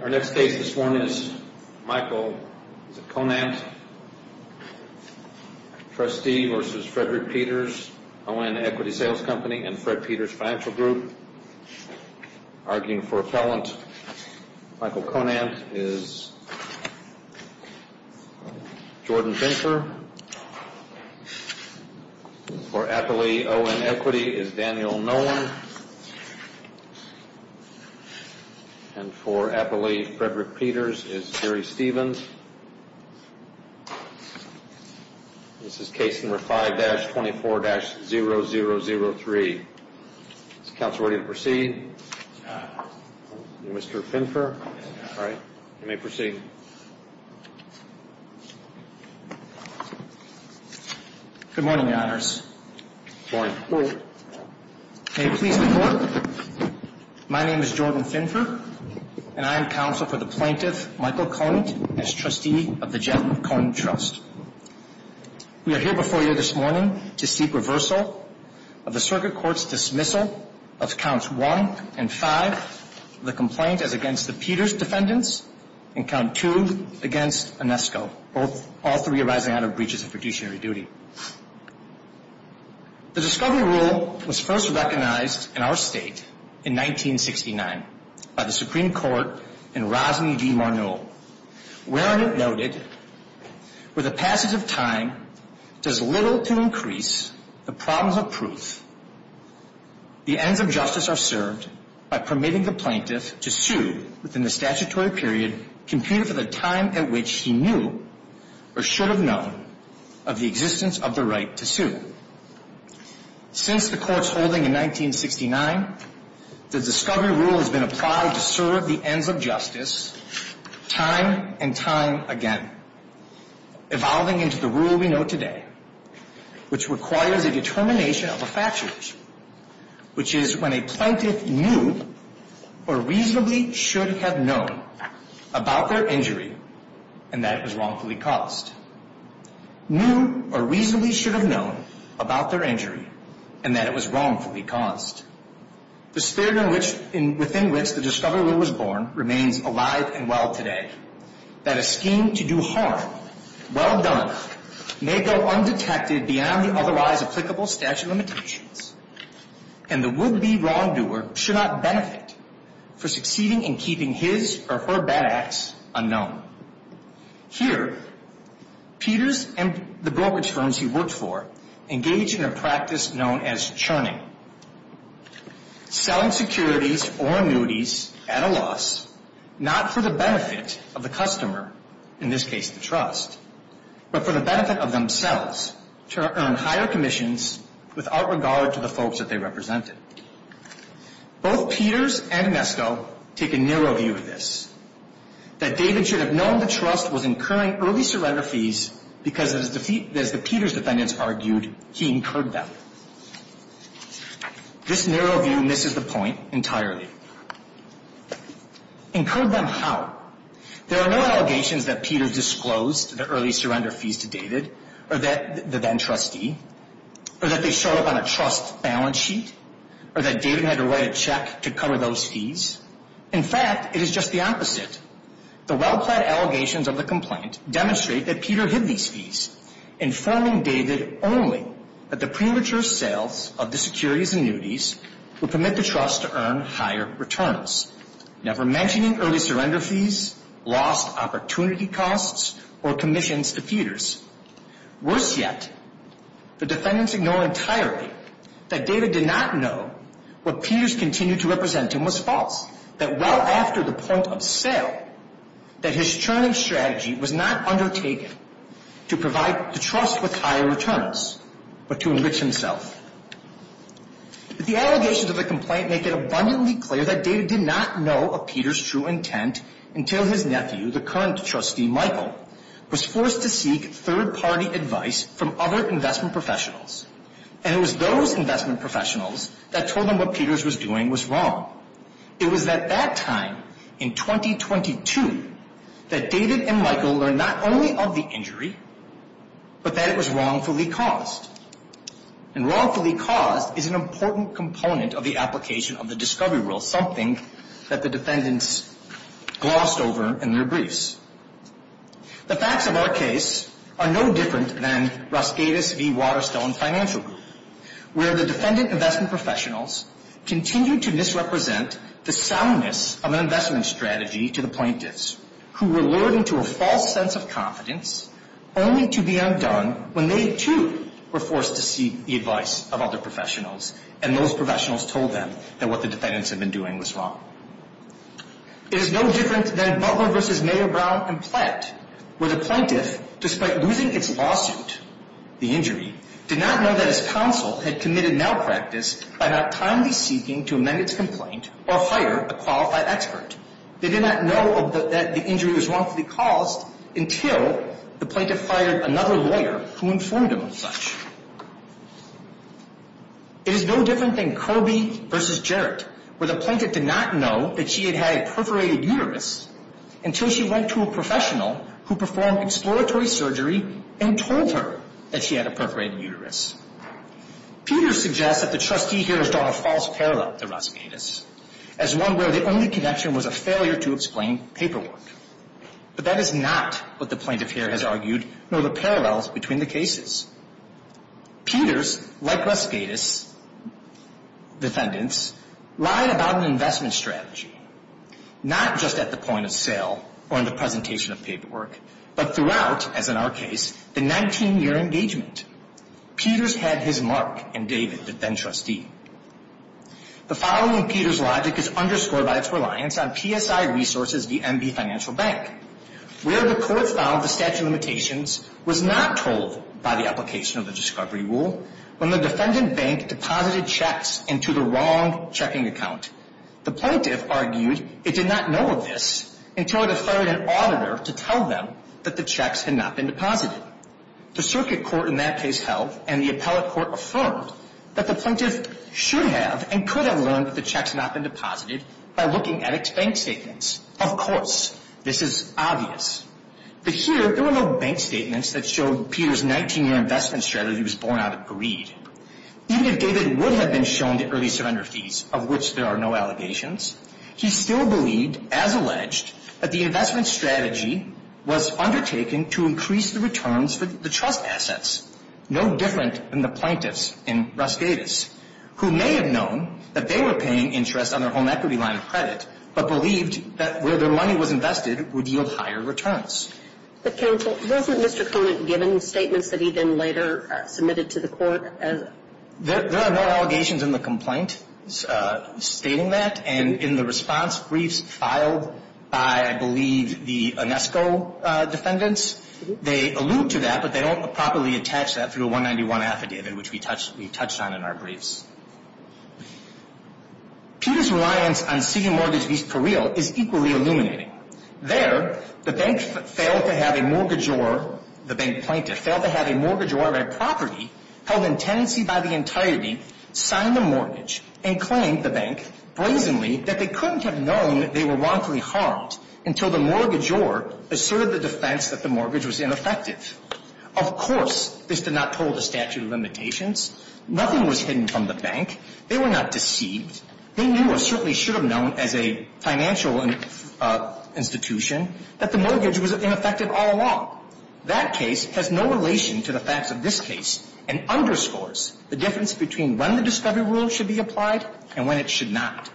Our next case this morning is Michael Conant v. Frederick Peters, O.N. Equity Sales Company and Fred Peters Financial Group, arguing for a felon. Michael Conant is Jordan Finker. For Appley, O.N. Equity is Daniel Nolan. And for Appley, Frederick Peters is Jerry Stevens. This is case number 5-24-0003. Is the counsel ready to proceed? Mr. Finker? All right. You may proceed. Good morning, Your Honors. Good morning. May it please the Court, my name is Jordan Finker and I am counsel for the plaintiff, Michael Conant, as trustee of the Jett & Conant Trust. We are here before you this morning to seek reversal of the Circuit Court's dismissal of counts 1 and 5 of the complaint as against the Peters defendants and count 2 against Onesko, all three arising out of breaches of fiduciary duty. The discovery rule was first recognized in our state in 1969 by the Supreme Court in Rosney v. Marneau, wherein it noted, where the passage of time does little to increase the problems of proof, the ends of justice are served by permitting the plaintiff to sue within the statutory period computed for the time at which he knew or should have known of the existence of the right to sue. Since the Court's holding in 1969, the discovery rule has been applied to serve the ends of justice time and time again, evolving into the rule we know today, which requires a determination of a factual issue, which is when a plaintiff knew or reasonably should have known about their injury and that it was wrongfully caused. Knew or reasonably should have known about their injury and that it was wrongfully caused. The spirit within which the discovery rule was born remains alive and well today, that a scheme to do harm, well done, may go undetected beyond the otherwise applicable statute of limitations, and the would-be wrongdoer should not benefit from succeeding in keeping his or her bad acts unknown. Here, Peters and the brokerage firms he worked for engaged in a practice known as churning, selling securities or annuities at a loss not for the benefit of the customer, in this case the trust, but for the benefit of themselves to earn higher commissions without regard to the folks that they represented. Both Peters and Nesko take a narrow view of this, that David should have known the trust was incurring early surrender fees because, as the Peters defendants argued, he incurred them. This narrow view misses the point entirely. Incurred them how? There are no allegations that Peters disclosed the early surrender fees to David, or the then-trustee, or that they showed up on a trust balance sheet, or that David had to write a check to cover those fees. In fact, it is just the opposite. The well-planned allegations of the complaint demonstrate that Peter hid these fees, informing David only that the premature sales of the securities annuities would permit the trust to earn higher returnals, never mentioning early surrender fees, lost opportunity costs, or commissions to Peters. Worse yet, the defendants ignore entirely that David did not know what Peters continued to represent him was false, that well after the point of sale, that his churning strategy was not undertaken to provide the trust with higher returns, but to enrich himself. The allegations of the complaint make it abundantly clear that David did not know of Peters' true intent until his nephew, the current trustee, Michael, was forced to seek third-party advice from other investment professionals. And it was those investment professionals that told him what Peters was doing was wrong. It was at that time, in 2022, that David and Michael learned not only of the injury, but that it was wrongfully caused. And wrongfully caused is an important component of the application of the discovery rule, something that the defendants glossed over in their briefs. The facts of our case are no different than Rosqueda v. Waterstone Financial Group, where the defendant investment professionals continued to misrepresent the soundness of an investment strategy to the plaintiffs, who were lured into a false sense of confidence only to be undone when they, too, were forced to seek the advice of other professionals. And most professionals told them that what the defendants had been doing was wrong. It is no different than Butler v. Mayor Brown and Platt, where the plaintiff, despite losing its lawsuit, the injury, did not know that his counsel had committed malpractice by not timely seeking to amend its complaint or hire a qualified expert. They did not know that the injury was wrongfully caused until the plaintiff hired another lawyer who informed him of such. It is no different than Kirby v. Jarrett, where the plaintiff did not know that she had had a perforated uterus until she went to a professional who performed exploratory surgery and told her that she had a perforated uterus. Peters suggests that the trustee here has drawn a false parallel to Rosqueda's, as one where the only connection was a failure to explain paperwork. But that is not what the plaintiff here has argued, nor the parallels between the cases. Peters, like Rosqueda's defendants, lied about an investment strategy, not just at the point of sale or in the presentation of paperwork, but throughout, as in our case, the 19-year engagement. Peters had his mark and David, the then trustee. The following Peters logic is underscored by its reliance on PSI Resources v. MB Financial Bank, where the court found the statute of limitations was not told by the application of the discovery rule when the defendant bank deposited checks into the wrong checking account. The plaintiff argued it did not know of this until it offered an auditor to tell them that the checks had not been deposited. The circuit court in that case held, and the appellate court affirmed, that the plaintiff should have and could have learned that the checks had not been deposited by looking at its bank statements. Of course, this is obvious. But here, there were no bank statements that showed Peters' 19-year investment strategy was born out of greed. Even if David would have been shown the early surrender fees, of which there are no allegations, he still believed, as alleged, that the investment strategy was undertaken to increase the returns for the trust assets, no different than the plaintiffs in Rosqueda's, who may have known that they were paying interest on their home equity line of credit, but believed that where their money was invested would yield higher returns. But counsel, wasn't Mr. Conant given statements that he then later submitted to the court? There are no allegations in the complaint stating that. And in the response briefs filed by, I believe, the UNESCO defendants, they allude to that, but they don't properly attach that through a 191 affidavit, which we touched on in our briefs. Peters' reliance on seeking mortgage fees for real is equally illuminating. There, the bank failed to have a mortgagor, the bank plaintiff, failed to have a mortgagor of a property held in tenancy by the entirety, sign the mortgage, and claimed, the bank, brazenly, that they couldn't have known they were wrongfully harmed until the mortgagor asserted the defense that the mortgage was ineffective. Of course, this did not toll the statute of limitations. Nothing was hidden from the bank. They were not deceived. They knew, or certainly should have known as a financial institution, that the mortgage was ineffective all along. That case has no relation to the facts of this case and underscores the difference between when the discovery rule should be applied and when it should not.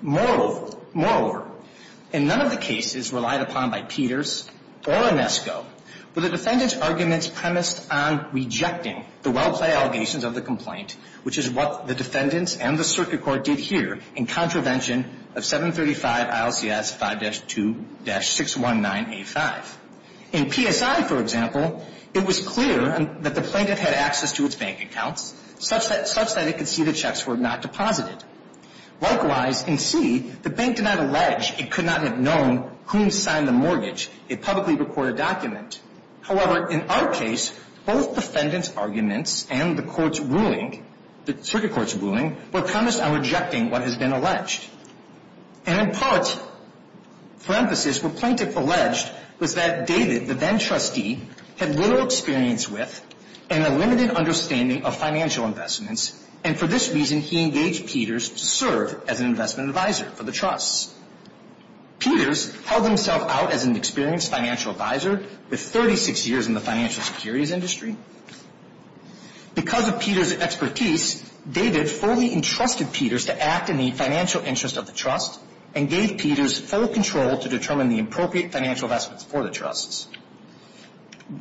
Moreover, in none of the cases relied upon by Peters or Inesco were the defendant's arguments premised on rejecting the well-played allegations of the complaint, which is what the defendants and the circuit court did here in contravention of 735 ILCS 5-2-619A5. In PSI, for example, it was clear that the plaintiff had access to its bank accounts, such that it could see the checks were not deposited. Likewise, in C, the bank did not allege it could not have known whom signed the mortgage. It publicly recorded a document. However, in our case, both the defendant's arguments and the court's ruling, the circuit court's ruling, were premised on rejecting what has been alleged. And in part, for emphasis, what the plaintiff alleged was that David, the then-trustee, had little experience with and a limited understanding of financial investments, and for this reason he engaged Peters to serve as an investment advisor for the trusts. Peters held himself out as an experienced financial advisor with 36 years in the financial securities industry. Because of Peters' expertise, David fully entrusted Peters to act in the financial interest of the trust and gave Peters full control to determine the appropriate financial investments for the trusts.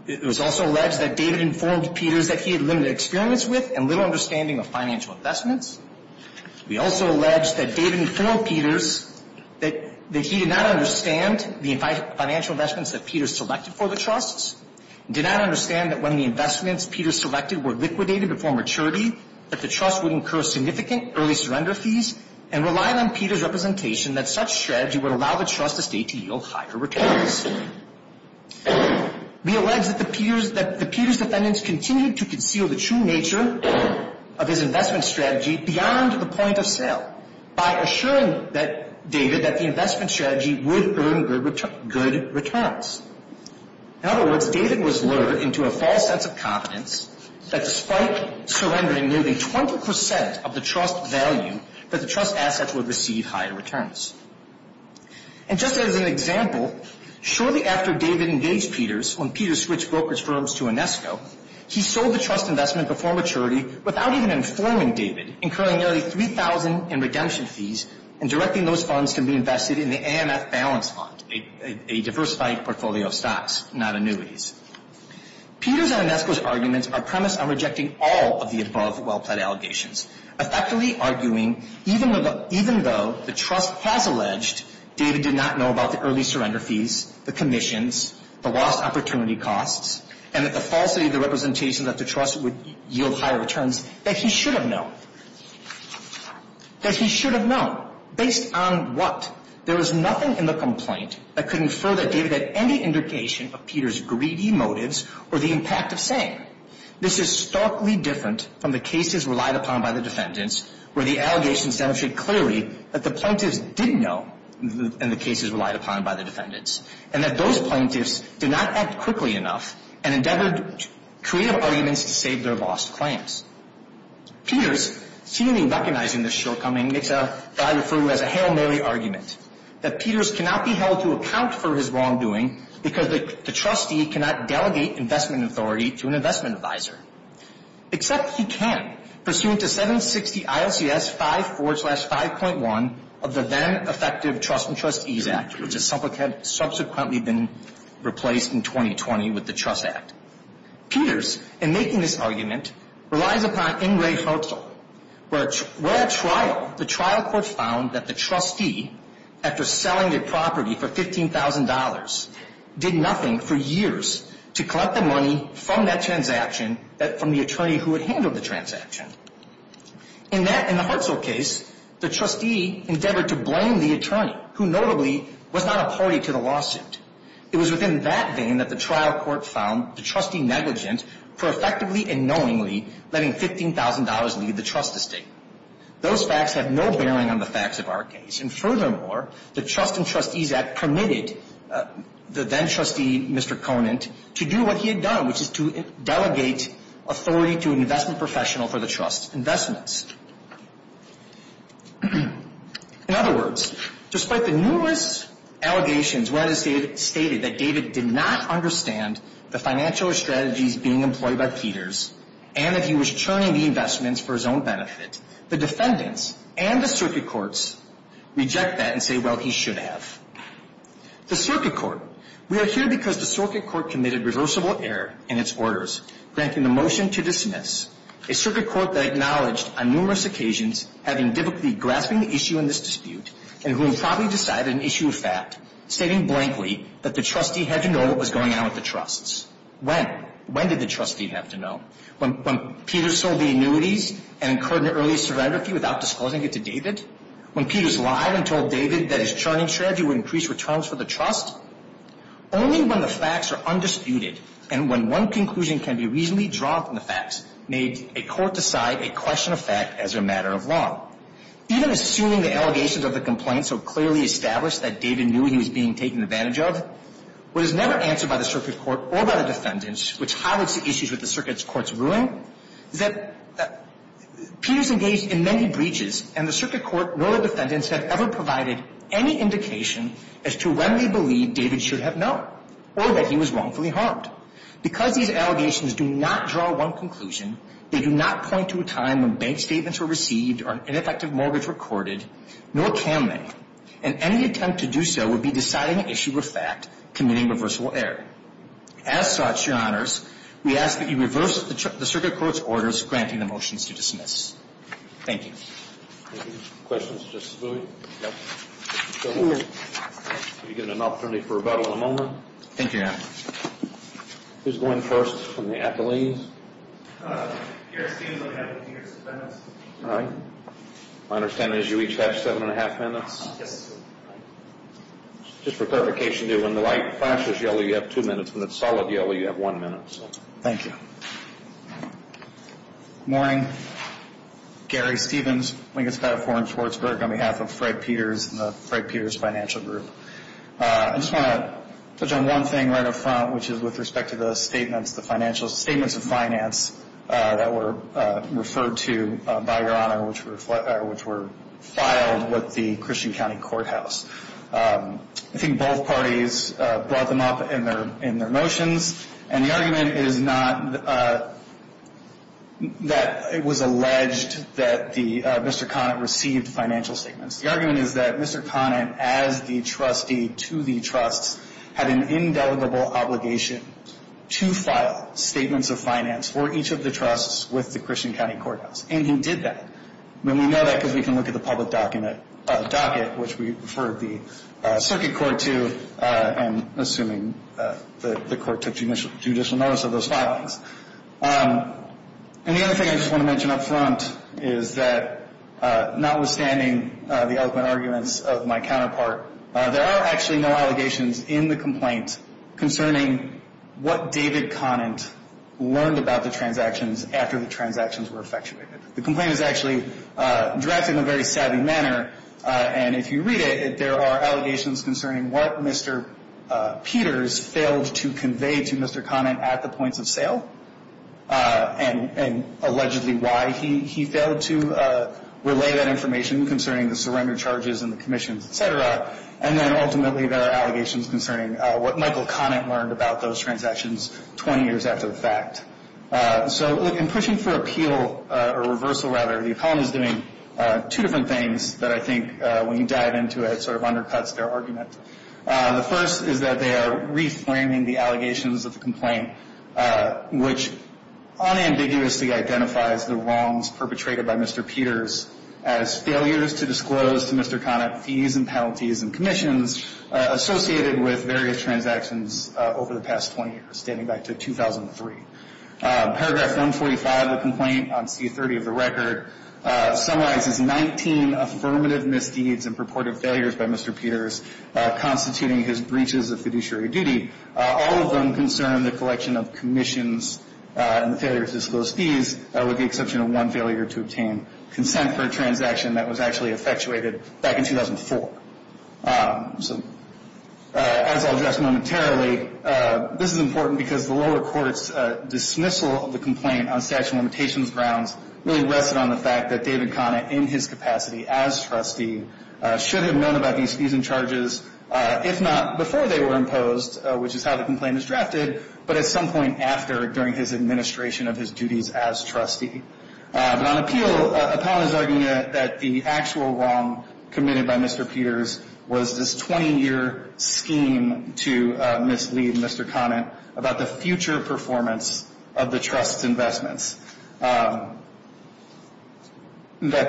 It was also alleged that David informed Peters that he had limited experience with and little understanding of financial investments. We also allege that David informed Peters that he did not understand the financial investments that Peters selected for the trusts, did not understand that when the investments Peters selected were liquidated before maturity, that the trust would incur significant early surrender fees, and relied on Peters' representation that such strategy would allow the trust estate to yield higher returns. We allege that the Peters defendants continued to conceal the true nature of his investment strategy beyond the point of sale by assuring David that the investment strategy would earn good returns. In other words, David was lured into a false sense of confidence that despite surrendering nearly 20 percent of the trust value, that the trust assets would receive higher returns. And just as an example, shortly after David engaged Peters when Peters switched brokerage firms to Inesco, he sold the trust investment before maturity without even informing David, incurring nearly 3,000 in redemption fees, and directing those funds to be invested in the AMF balance fund, a diversified portfolio of stocks, not annuities. Peters and Inesco's arguments are premised on rejecting all of the above well-pled allegations, effectively arguing even though the trust has alleged David did not know about the early surrender fees, the commissions, the lost opportunity costs, and that the falsity of the representation that the trust would yield higher returns, that he should have known. That he should have known. Based on what? There was nothing in the complaint that could infer that David had any indication of Peters' greedy motives or the impact of saying. This is starkly different from the cases relied upon by the defendants where the allegations demonstrate clearly that the plaintiffs did know, in the cases relied upon by the defendants, and that those plaintiffs did not act quickly enough and endeavored creative arguments to save their lost claims. Peters, seemingly recognizing this shortcoming, makes a, I refer to him as a Hail Mary argument, that Peters cannot be held to account for his wrongdoing because the trustee cannot delegate investment authority to an investment advisor, except he can, pursuant to 760 ILCS 5.4-5.1 of the then effective Trust and Trustees Act, which has subsequently been replaced in 2020 with the Trust Act. Peters, in making this argument, relies upon Ingray-Hertzel, where at trial, the trial court found that the trustee, after selling their property for $15,000, did nothing for years to collect the money from that transaction, from the attorney who had handled the transaction. In the Hertzel case, the trustee endeavored to blame the attorney, who notably was not a party to the lawsuit. It was within that vein that the trial court found the trustee negligent for effectively and knowingly letting $15,000 leave the trust estate. Those facts have no bearing on the facts of our case. And furthermore, the Trust and Trustees Act permitted the then-trustee, Mr. Conant, to do what he had done, which is to delegate authority to an investment professional for the trust's investments. In other words, despite the numerous allegations where it is stated that David did not understand the financial strategies being employed by Peters and that he was churning the investments for his own benefit, the defendants and the circuit courts reject that and say, well, he should have. The circuit court. We are here because the circuit court committed reversible error in its orders, granting the motion to dismiss a circuit court that acknowledged on numerous occasions having difficulty grasping the issue in this dispute and who had promptly decided an issue of fact, stating blankly that the trustee had to know what was going on with the trusts. When? When did the trustee have to know? When Peters sold the annuities and incurred an early serendipity without disclosing it to David? When Peters lied and told David that his churning strategy would increase returns for the trust? Only when the facts are undisputed and when one conclusion can be reasonably drawn from the facts may a court decide a question of fact as a matter of law. Even assuming the allegations of the complaint so clearly established that David knew he was being taken advantage of, what is never answered by the circuit court or by the defendants, which highlights the issues with the circuit court's ruling, is that Peters engaged in many breaches and the circuit court nor the defendants have ever provided any indication as to when they believe David should have known or that he was wrongfully harmed. Because these allegations do not draw one conclusion, they do not point to a time when bank statements were received or an ineffective mortgage recorded, nor can they. And any attempt to do so would be deciding an issue of fact, committing reversible error. As such, Your Honors, we ask that you reverse the circuit court's orders granting the motions to dismiss. Thank you. Any questions of Justice Booey? So we'll give you an opportunity for rebuttal in a moment. Thank you, Your Honor. Who's going first from the athletes? Your Honor, it seems I have two years of defense. All right. My understanding is you each have seven and a half minutes? Yes, sir. Just for clarification, when the light flashes yellow, you have two minutes. When it's solid yellow, you have one minute. Thank you. Good morning. Gary Stephens, Lincolns High School in Schwartzburg, on behalf of Fred Peters and the Fred Peters Financial Group. I just want to touch on one thing right up front, which is with respect to the statements of finance that were referred to by Your Honor which were filed with the Christian County Courthouse. I think both parties brought them up in their motions, and the argument is not that it was alleged that Mr. Conant received financial statements. The argument is that Mr. Conant, as the trustee to the trusts, had an indelible obligation to file statements of finance for each of the trusts with the Christian County Courthouse, and he did that. We know that because we can look at the public docket, which we referred the circuit court to, and assuming the court took judicial notice of those filings. And the other thing I just want to mention up front is that notwithstanding the eloquent arguments of my counterpart, there are actually no allegations in the complaint concerning what David Conant learned about the transactions after the transactions were effectuated. The complaint is actually drafted in a very savvy manner, and if you read it there are allegations concerning what Mr. Peters failed to convey to Mr. Conant at the points of sale, and allegedly why he failed to relay that information concerning the surrender charges and the commissions, et cetera. And then ultimately there are allegations concerning what Michael Conant learned about those transactions 20 years after the fact. So in pushing for appeal, or reversal rather, the economy is doing two different things that I think when you dive into it sort of undercuts their argument. The first is that they are reframing the allegations of the complaint, which unambiguously identifies the wrongs perpetrated by Mr. Peters as failures to disclose to Mr. Conant fees and penalties and commissions associated with various transactions over the past 20 years, standing back to 2003. Paragraph 145 of the complaint on C-30 of the record summarizes 19 affirmative misdeeds and purported failures by Mr. Peters constituting his breaches of fiduciary duty. All of them concern the collection of commissions and the failure to disclose fees, with the exception of one failure to obtain consent for a transaction that was actually effectuated back in 2004. So as I'll address momentarily, this is important because the lower court's dismissal of the complaint on statute of limitations grounds really rested on the fact that David Conant, in his capacity as trustee, should have known about these fees and charges, if not before they were imposed, which is how the complaint is drafted, but at some point after during his administration of his duties as trustee. But on appeal, Apollon is arguing that the actual wrong committed by Mr. Peters was this 20-year scheme to mislead Mr. Conant about the future performance of the trust's investments, that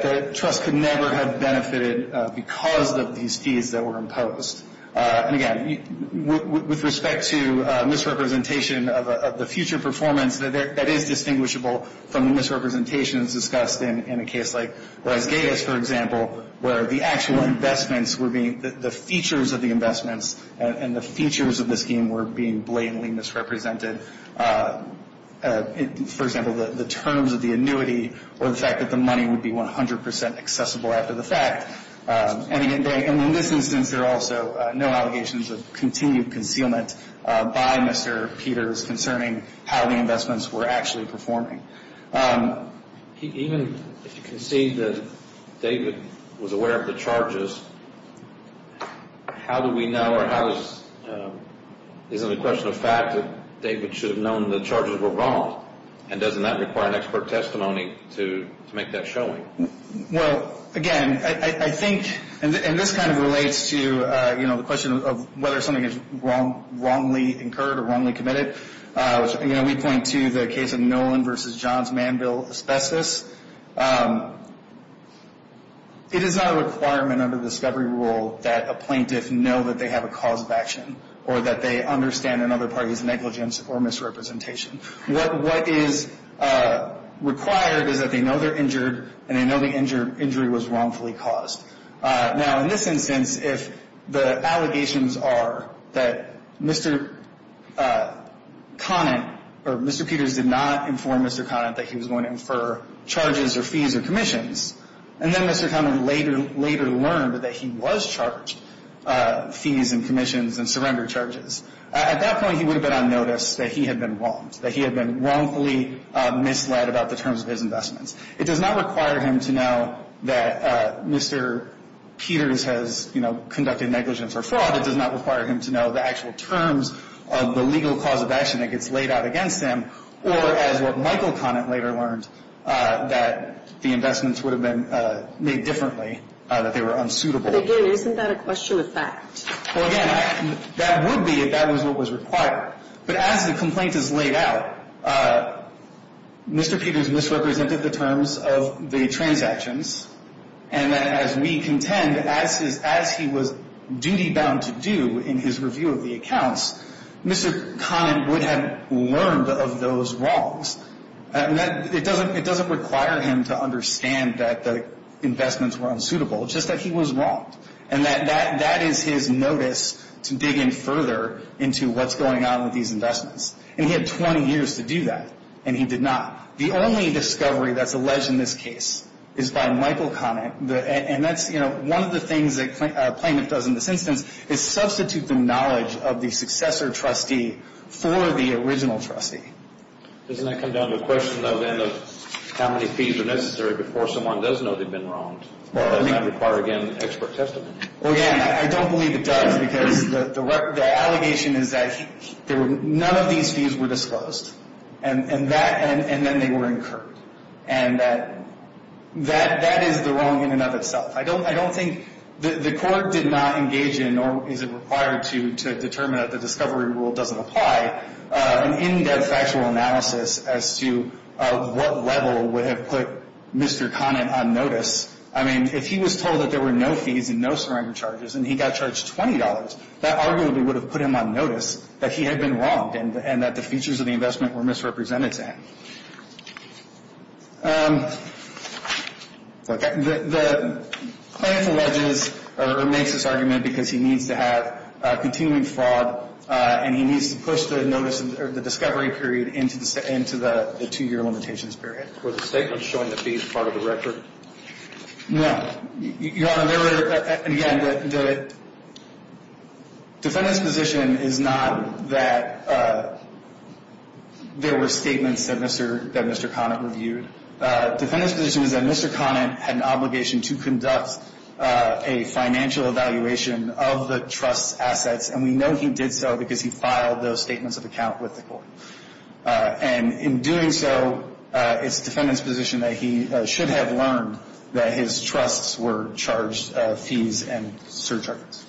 the trust could never have benefited because of these fees that were imposed. And again, with respect to misrepresentation of the future performance, that is distinguishable from the misrepresentations discussed in a case like Las Vegas, for example, where the actual investments were being the features of the investments and the features of the scheme were being blatantly misrepresented. For example, the terms of the annuity or the fact that the money would be 100 percent accessible after the fact. And in this instance, there are also no allegations of continued concealment by Mr. Peters concerning how the investments were actually performing. Even if you concede that David was aware of the charges, how do we know or how is it a question of fact that David should have known the charges were wrong? And doesn't that require an expert testimony to make that showing? Well, again, I think, and this kind of relates to, you know, the question of whether something is wrongly incurred or wrongly committed. You know, we point to the case of Nolan v. Johns Manville Asbestos. It is not a requirement under the discovery rule that a plaintiff know that they have a cause of action or that they understand another party's negligence or misrepresentation. What is required is that they know they're injured and they know the injury was wrongfully caused. Now, in this instance, if the allegations are that Mr. Conant or Mr. Peters did not inform Mr. Conant that he was going to infer charges or fees or commissions, and then Mr. Conant later learned that he was charged fees and commissions and surrendered charges, at that point he would have been on notice that he had been wronged, that he had been wrongfully misled about the terms of his investments. It does not require him to know that Mr. Peters has, you know, conducted negligence or fraud. It does not require him to know the actual terms of the legal cause of action that gets laid out against him or, as what Michael Conant later learned, that the investments would have been made differently, that they were unsuitable. But, again, isn't that a question of fact? Well, again, that would be if that was what was required. But as the complaint is laid out, Mr. Peters misrepresented the terms of the transactions, and as we contend, as he was duty-bound to do in his review of the accounts, Mr. Conant would have learned of those wrongs. It doesn't require him to understand that the investments were unsuitable, just that he was wronged, and that that is his notice to dig in further into what's going on with these investments. And he had 20 years to do that, and he did not. The only discovery that's alleged in this case is by Michael Conant, and that's, you know, one of the things that a claimant does in this instance is substitute the knowledge of the successor trustee for the original trustee. Doesn't that come down to a question, though, then, of how many fees are necessary before someone does know they've been wronged? Well, doesn't that require, again, expert testimony? Well, again, I don't believe it does because the allegation is that none of these fees were disclosed, and then they were incurred, and that is the wrong in and of itself. I don't think the court did not engage in, nor is it required to determine that the discovery rule doesn't apply, an in-depth factual analysis as to what level would have put Mr. Conant on notice. I mean, if he was told that there were no fees and no surrender charges and he got charged $20, that arguably would have put him on notice that he had been wronged and that the features of the investment were misrepresented to him. The claimant alleges or makes this argument because he needs to have continuing fraud and he needs to push the discovery period into the 2-year limitations period. Were the statements showing the fees part of the record? No. Your Honor, there were, again, the defendant's position is not that there were statements that Mr. Conant reviewed. The defendant's position is that Mr. Conant had an obligation to conduct a financial evaluation of the trust's assets, and we know he did so because he filed those statements of account with the court. And in doing so, it's the defendant's position that he should have learned that his trusts were charged fees and surcharges.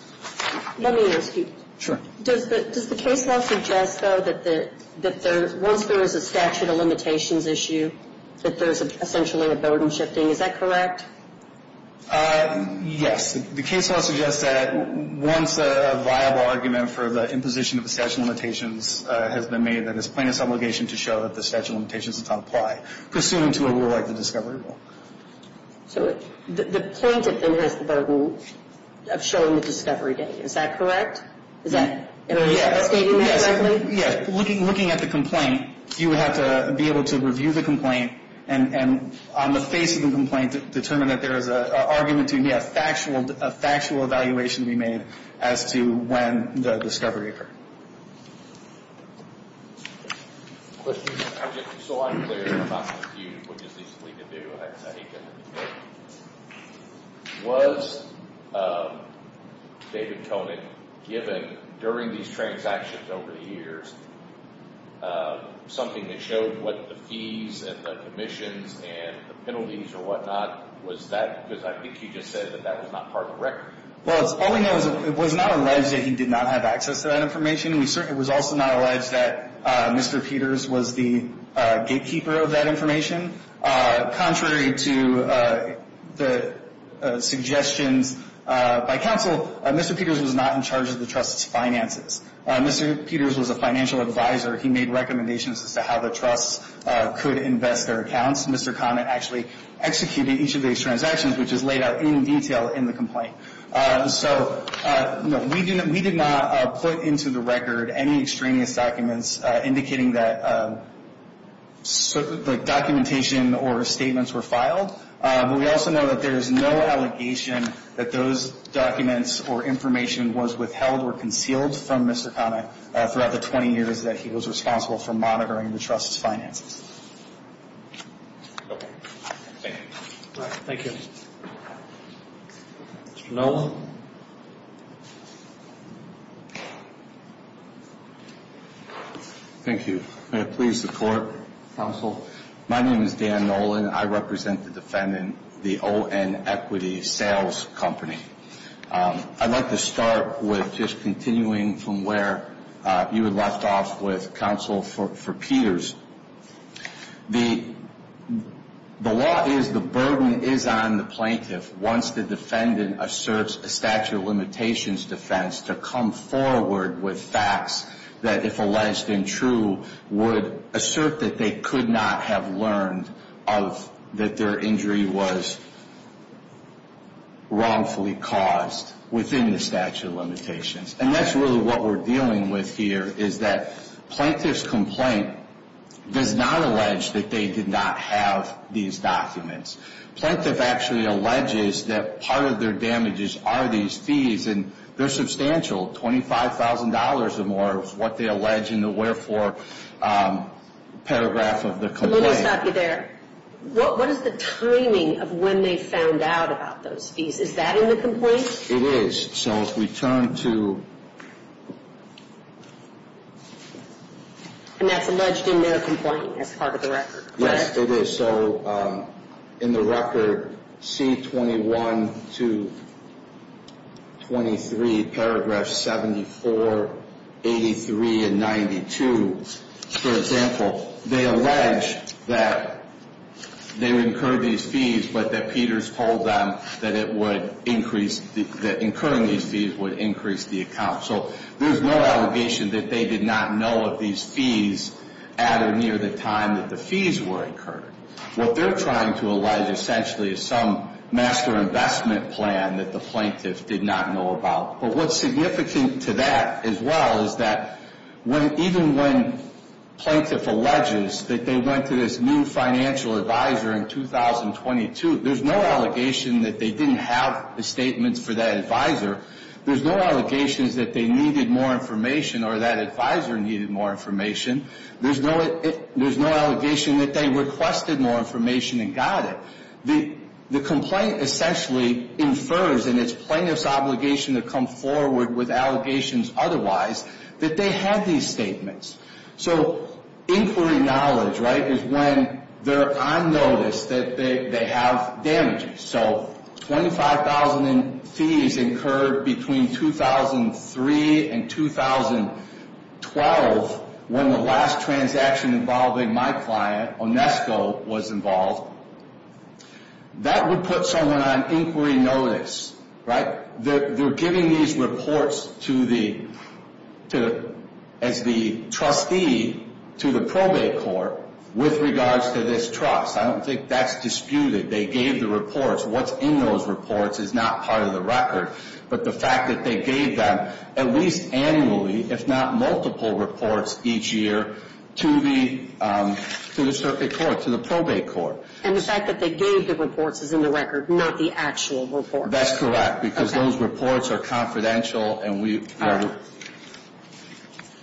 Let me ask you. Sure. Does the case law suggest, though, that once there is a statute of limitations issue, that there's essentially a burden shifting? Is that correct? Yes. The case law suggests that once a viable argument for the imposition of the statute of limitations has been made, that it's plaintiff's obligation to show that the statute of limitations does not apply, pursuant to a rule like the discovery rule. So the plaintiff, then, has the burden of showing the discovery date. Is that correct? Is that what you're stating exactly? Yes. Looking at the complaint, you would have to be able to review the complaint and on the face of the complaint determine that there is an argument to be a factual evaluation to be made as to when the discovery occurred. Questions? I'm just so unclear and I'm not confused, which is easily to do. I hate getting into court. Was David Koenig given, during these transactions over the years, something that showed what the fees and the commissions and the penalties or whatnot, was that? Because I think you just said that that was not part of the record. Well, all we know is it was not alleged that he did not have access to that information. It was also not alleged that Mr. Peters was the gatekeeper of that information. Contrary to the suggestions by counsel, Mr. Peters was not in charge of the trust's finances. Mr. Peters was a financial advisor. He made recommendations as to how the trust could invest their accounts. Mr. Koenig actually executed each of these transactions, which is laid out in detail in the complaint. We did not put into the record any extraneous documents indicating that documentation or statements were filed. But we also know that there is no allegation that those documents or information was withheld or concealed from Mr. Koenig throughout the 20 years that he was responsible for monitoring the trust's finances. Thank you. Thank you. Mr. Nolan? Thank you. May I please support, counsel? My name is Dan Nolan. I represent the defendant, the O.N. Equity Sales Company. I'd like to start with just continuing from where you had left off with counsel for Peters. The law is the burden is on the plaintiff once the defendant asserts a statute of limitations defense to come forward with facts that, if alleged and true, would assert that they could not have learned that their injury was wrongfully caused within the statute of limitations. And that's really what we're dealing with here, is that plaintiff's complaint does not allege that they did not have these documents. Plaintiff actually alleges that part of their damages are these fees, and they're substantial. $25,000 or more is what they allege in the wherefore paragraph of the complaint. Let me stop you there. What is the timing of when they found out about those fees? Is that in the complaint? It is. So if we turn to… And that's alleged in their complaint as part of the record, correct? Yes, it is. So in the record, C21 to 23, paragraphs 74, 83, and 92, for example, they allege that they incurred these fees, but that Peters told them that it would increase… that incurring these fees would increase the account. So there's no allegation that they did not know of these fees at or near the time that the fees were incurred. What they're trying to allege essentially is some master investment plan that the plaintiff did not know about. But what's significant to that as well is that even when plaintiff alleges that they went to this new financial advisor in 2022, there's no allegation that they didn't have the statements for that advisor. There's no allegations that they needed more information or that advisor needed more information. There's no allegation that they requested more information and got it. The complaint essentially infers, and it's plaintiff's obligation to come forward with allegations otherwise, that they had these statements. So inquiry knowledge, right, is when they're on notice that they have damages. So 25,000 fees incurred between 2003 and 2012 when the last transaction involving my client, Onesco, was involved. That would put someone on inquiry notice, right? They're giving these reports to the… as the trustee to the probate court with regards to this trust. I don't think that's disputed. They gave the reports. What's in those reports is not part of the record. But the fact that they gave them at least annually, if not multiple reports each year, to the circuit court, to the probate court. And the fact that they gave the reports is in the record, not the actual report. That's correct. Okay. Those reports are confidential, and we are…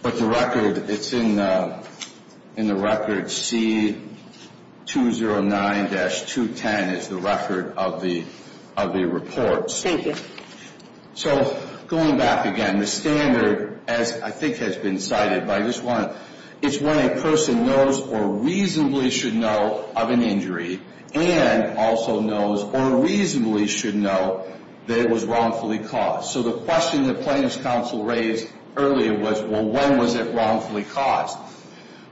but the record, it's in the record. C-209-210 is the record of the reports. Thank you. So going back again, the standard, as I think has been cited by this one, it's when a person knows or reasonably should know of an injury and also knows or reasonably should know that it was wrongfully caused. So the question that plaintiff's counsel raised earlier was, well, when was it wrongfully caused?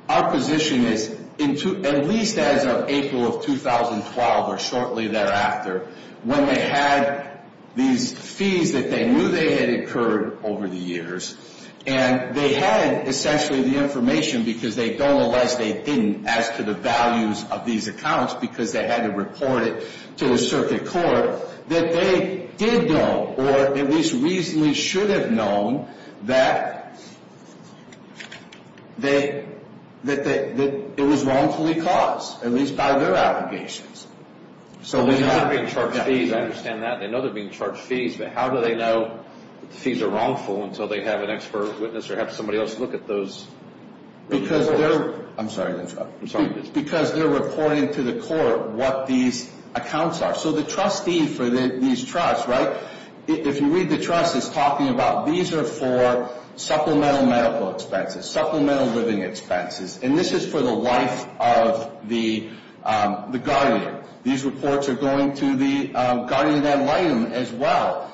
Our position is at least as of April of 2012 or shortly thereafter, when they had these fees that they knew they had incurred over the years, and they had essentially the information because they don't realize they didn't as to the values of these accounts because they had to report it to the circuit court, that they did know or at least reasonably should have known that it was wrongfully caused, at least by their allegations. So they know they're being charged fees. I understand that. They know they're being charged fees, but how do they know the fees are wrongful until they have an expert witness or have somebody else look at those reports? Because they're… I'm sorry. I'm sorry. Because they're reporting to the court what these accounts are. So the trustee for these trusts, right, if you read the trust, it's talking about these are for supplemental medical expenses, supplemental living expenses, and this is for the life of the guardian. These reports are going to the guardian ad litem as well.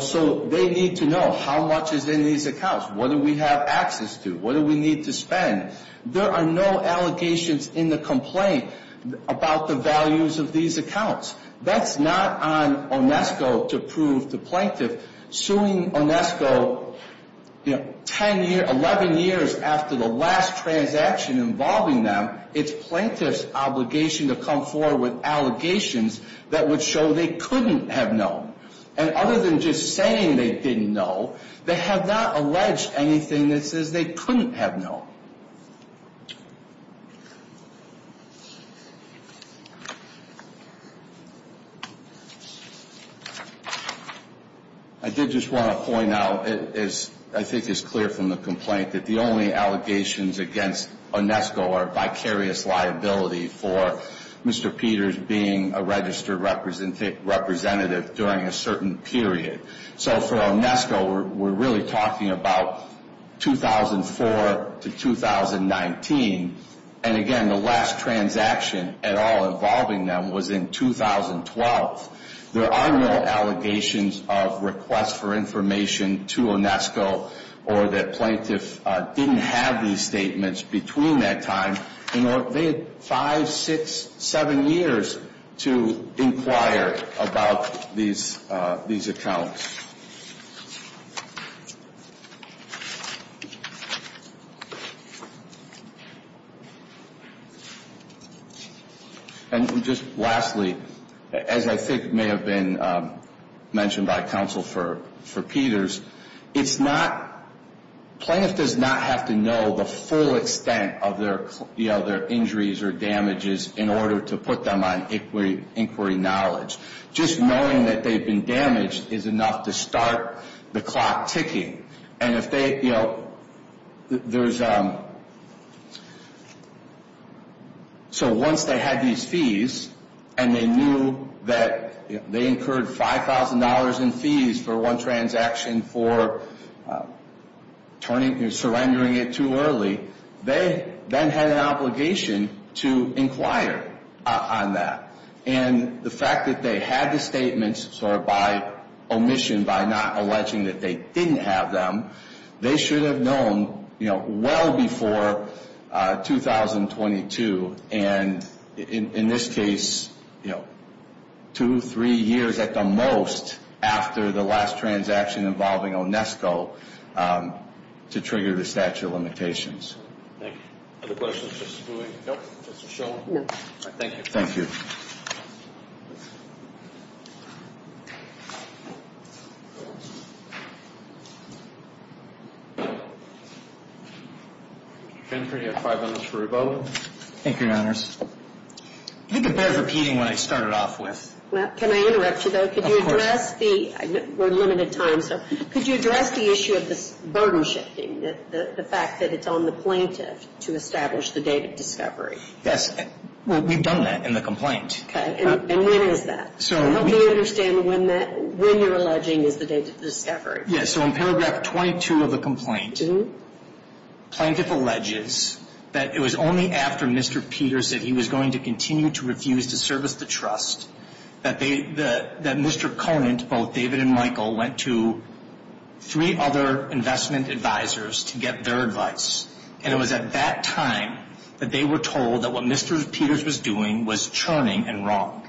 So they need to know how much is in these accounts. What do we have access to? What do we need to spend? There are no allegations in the complaint about the values of these accounts. That's not on Onesco to prove the plaintiff suing Onesco 10 years, 11 years after the last transaction involving them. It's plaintiff's obligation to come forward with allegations that would show they couldn't have known. And other than just saying they didn't know, they have not alleged anything that says they couldn't have known. I did just want to point out, as I think is clear from the complaint, that the only allegations against Onesco are vicarious liability for Mr. Peters being a registered representative during a certain period. So for Onesco, we're really talking about 2004 to 2019. And again, the last transaction at all involving them was in 2012. There are no allegations of request for information to Onesco or that plaintiff didn't have these statements between that time. They had five, six, seven years to inquire about these accounts. And just lastly, as I think may have been mentioned by counsel for Peters, it's not – plaintiff does not have to know the full extent of their injuries or damages in order to put them on inquiry knowledge. Just knowing that they've been damaged is enough to put them on inquiry knowledge. It's enough to start the clock ticking. And if they – there's – so once they had these fees and they knew that they incurred $5,000 in fees for one transaction for surrendering it too early, they then had an obligation to inquire on that. And the fact that they had the statements sort of by omission, by not alleging that they didn't have them, they should have known, you know, well before 2022. And in this case, you know, two, three years at the most after the last transaction involving Onesco to trigger the statute of limitations. Thank you. Other questions, Justice Bui? Nope. Justice Schoen? No. Thank you. Mr. Schoen, you have five minutes for rebuttal. Thank you, Your Honors. I think it bears repeating what I started off with. Well, can I interrupt you, though? Of course. Could you address the – we're limited time, so could you address the issue of this burden shifting, the fact that it's on the plaintiff to establish the date of discovery? Yes. Well, we've done that in the complaint. Okay. And when is that? So help me understand when you're alleging is the date of discovery. Yeah, so in paragraph 22 of the complaint, plaintiff alleges that it was only after Mr. Peter said he was going to continue to refuse to service the trust that Mr. Conant, both David and Michael, went to three other investment advisors to get their advice. And it was at that time that they were told that what Mr. Peters was doing was churning and wrong.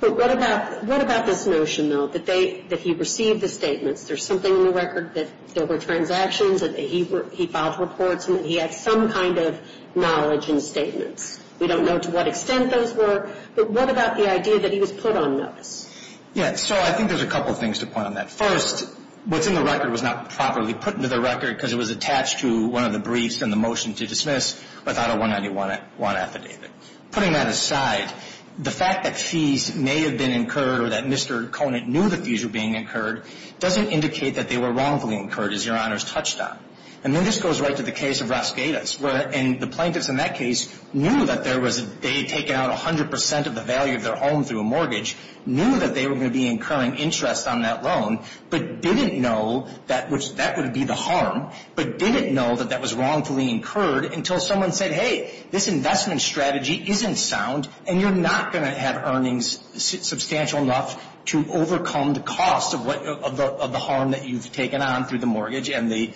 But what about this notion, though, that he received the statements? There's something in the record that there were transactions, that he filed reports, and that he had some kind of knowledge in statements. We don't know to what extent those were, but what about the idea that he was put on notice? Yeah, so I think there's a couple things to point on that. First, what's in the record was not properly put into the record because it was attached to one of the briefs in the motion to dismiss without a 191 affidavit. Putting that aside, the fact that fees may have been incurred or that Mr. Conant knew that fees were being incurred doesn't indicate that they were wrongfully incurred, as Your Honors touched on. And then this goes right to the case of Rosqueda's. And the plaintiffs in that case knew that they had taken out 100% of the value of their home through a mortgage, knew that they were going to be incurring interest on that loan, but didn't know that that would be the harm, but didn't know that that was wrongfully incurred until someone said, hey, this investment strategy isn't sound, and you're not going to have earnings substantial enough to overcome the cost of the harm that you've taken on through the mortgage and the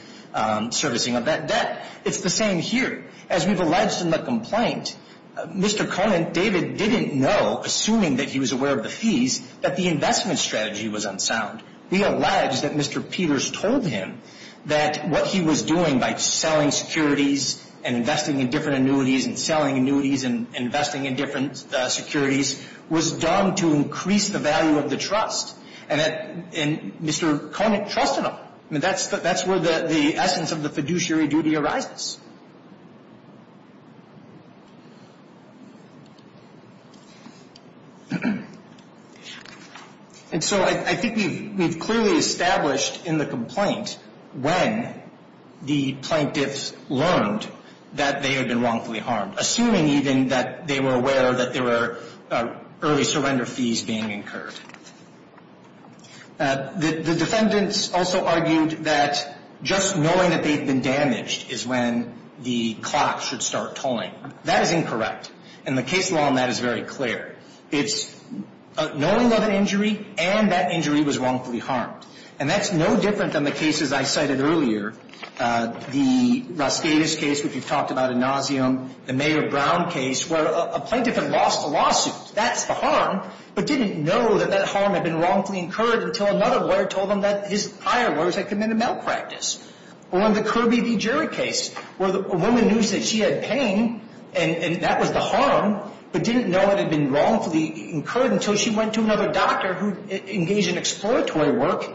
servicing of that debt. It's the same here. As we've alleged in the complaint, Mr. Conant, David, didn't know, assuming that he was aware of the fees, that the investment strategy was unsound. We allege that Mr. Peters told him that what he was doing by selling securities and investing in different annuities and selling annuities and investing in different securities was done to increase the value of the trust. And Mr. Conant trusted him. That's where the essence of the fiduciary duty arises. And so I think we've clearly established in the complaint when the plaintiffs learned that they had been wrongfully harmed, assuming even that they were aware that there were early surrender fees being incurred. The defendants also argued that just knowing that they'd been damaged is when the clock should start tolling. That is incorrect. And the case law on that is very clear. It's knowing of an injury and that injury was wrongfully harmed. And that's no different than the cases I cited earlier, the Lascedas case, which we've talked about in nauseam, the Mayor Brown case where a plaintiff had lost a lawsuit. That's the harm, but didn't know that that harm had been wrongfully incurred until another lawyer told them that his higher lawyers had committed malpractice. Or in the Kirby v. Jarrett case where a woman knew that she had pain and that was the harm but didn't know it had been wrongfully incurred until she went to another doctor who engaged in exploratory work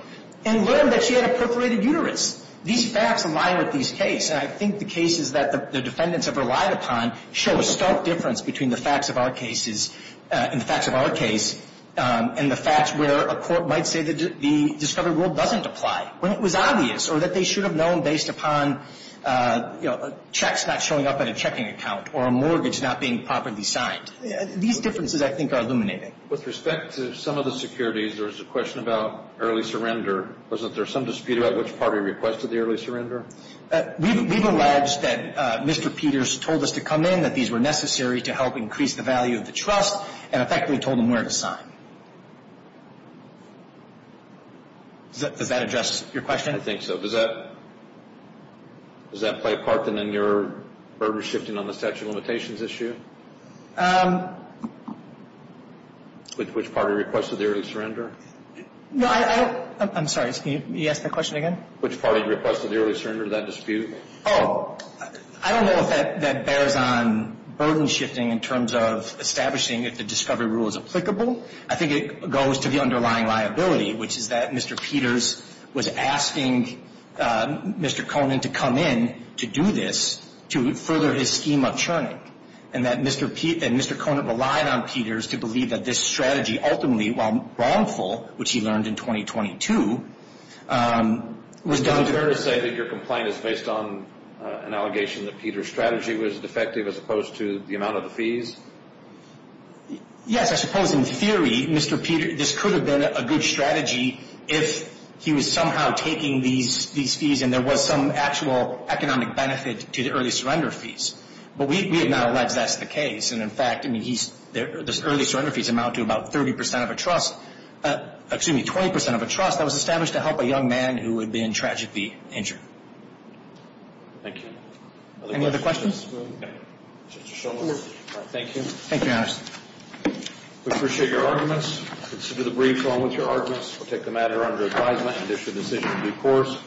and learned that she had a perforated uterus. These facts align with these cases. And I think the cases that the defendants have relied upon show a stark difference between the facts of our cases and the facts of our case and the facts where a court might say that the discovery rule doesn't apply, when it was obvious, or that they should have known based upon, you know, checks not showing up at a checking account or a mortgage not being properly signed. These differences, I think, are illuminating. With respect to some of the securities, there was a question about early surrender. Wasn't there some dispute about which party requested the early surrender? We've alleged that Mr. Peters told us to come in, that these were necessary to help increase the value of the trust and effectively told him where to sign. Does that address your question? I think so. Does that play a part in your burden shifting on the statute of limitations issue? Which party requested the early surrender? No, I don't. I'm sorry, can you ask that question again? Which party requested the early surrender, that dispute? Oh, I don't know if that bears on burden shifting in terms of establishing if the discovery rule is applicable. I think it goes to the underlying liability, which is that Mr. Peters was asking Mr. Conant to come in to do this to further his scheme of churning, and that Mr. Conant relied on Peters to believe that this strategy ultimately, while wrongful, which he learned in 2022, was done. Is it fair to say that your complaint is based on an allegation that Peters' strategy was defective as opposed to the amount of the fees? Yes, I suppose in theory, Mr. Peters, this could have been a good strategy if he was somehow taking these fees and there was some actual economic benefit to the early surrender fees. But we have now alleged that's the case, and in fact, the early surrender fees amount to about 30% of a trust, excuse me, 20% of a trust that was established to help a young man who had been tragically injured. Thank you. Any other questions? Thank you. Thank you, Your Honor. We appreciate your arguments. Consider the brief along with your arguments. We'll take the matter under advisement and issue a decision in due course.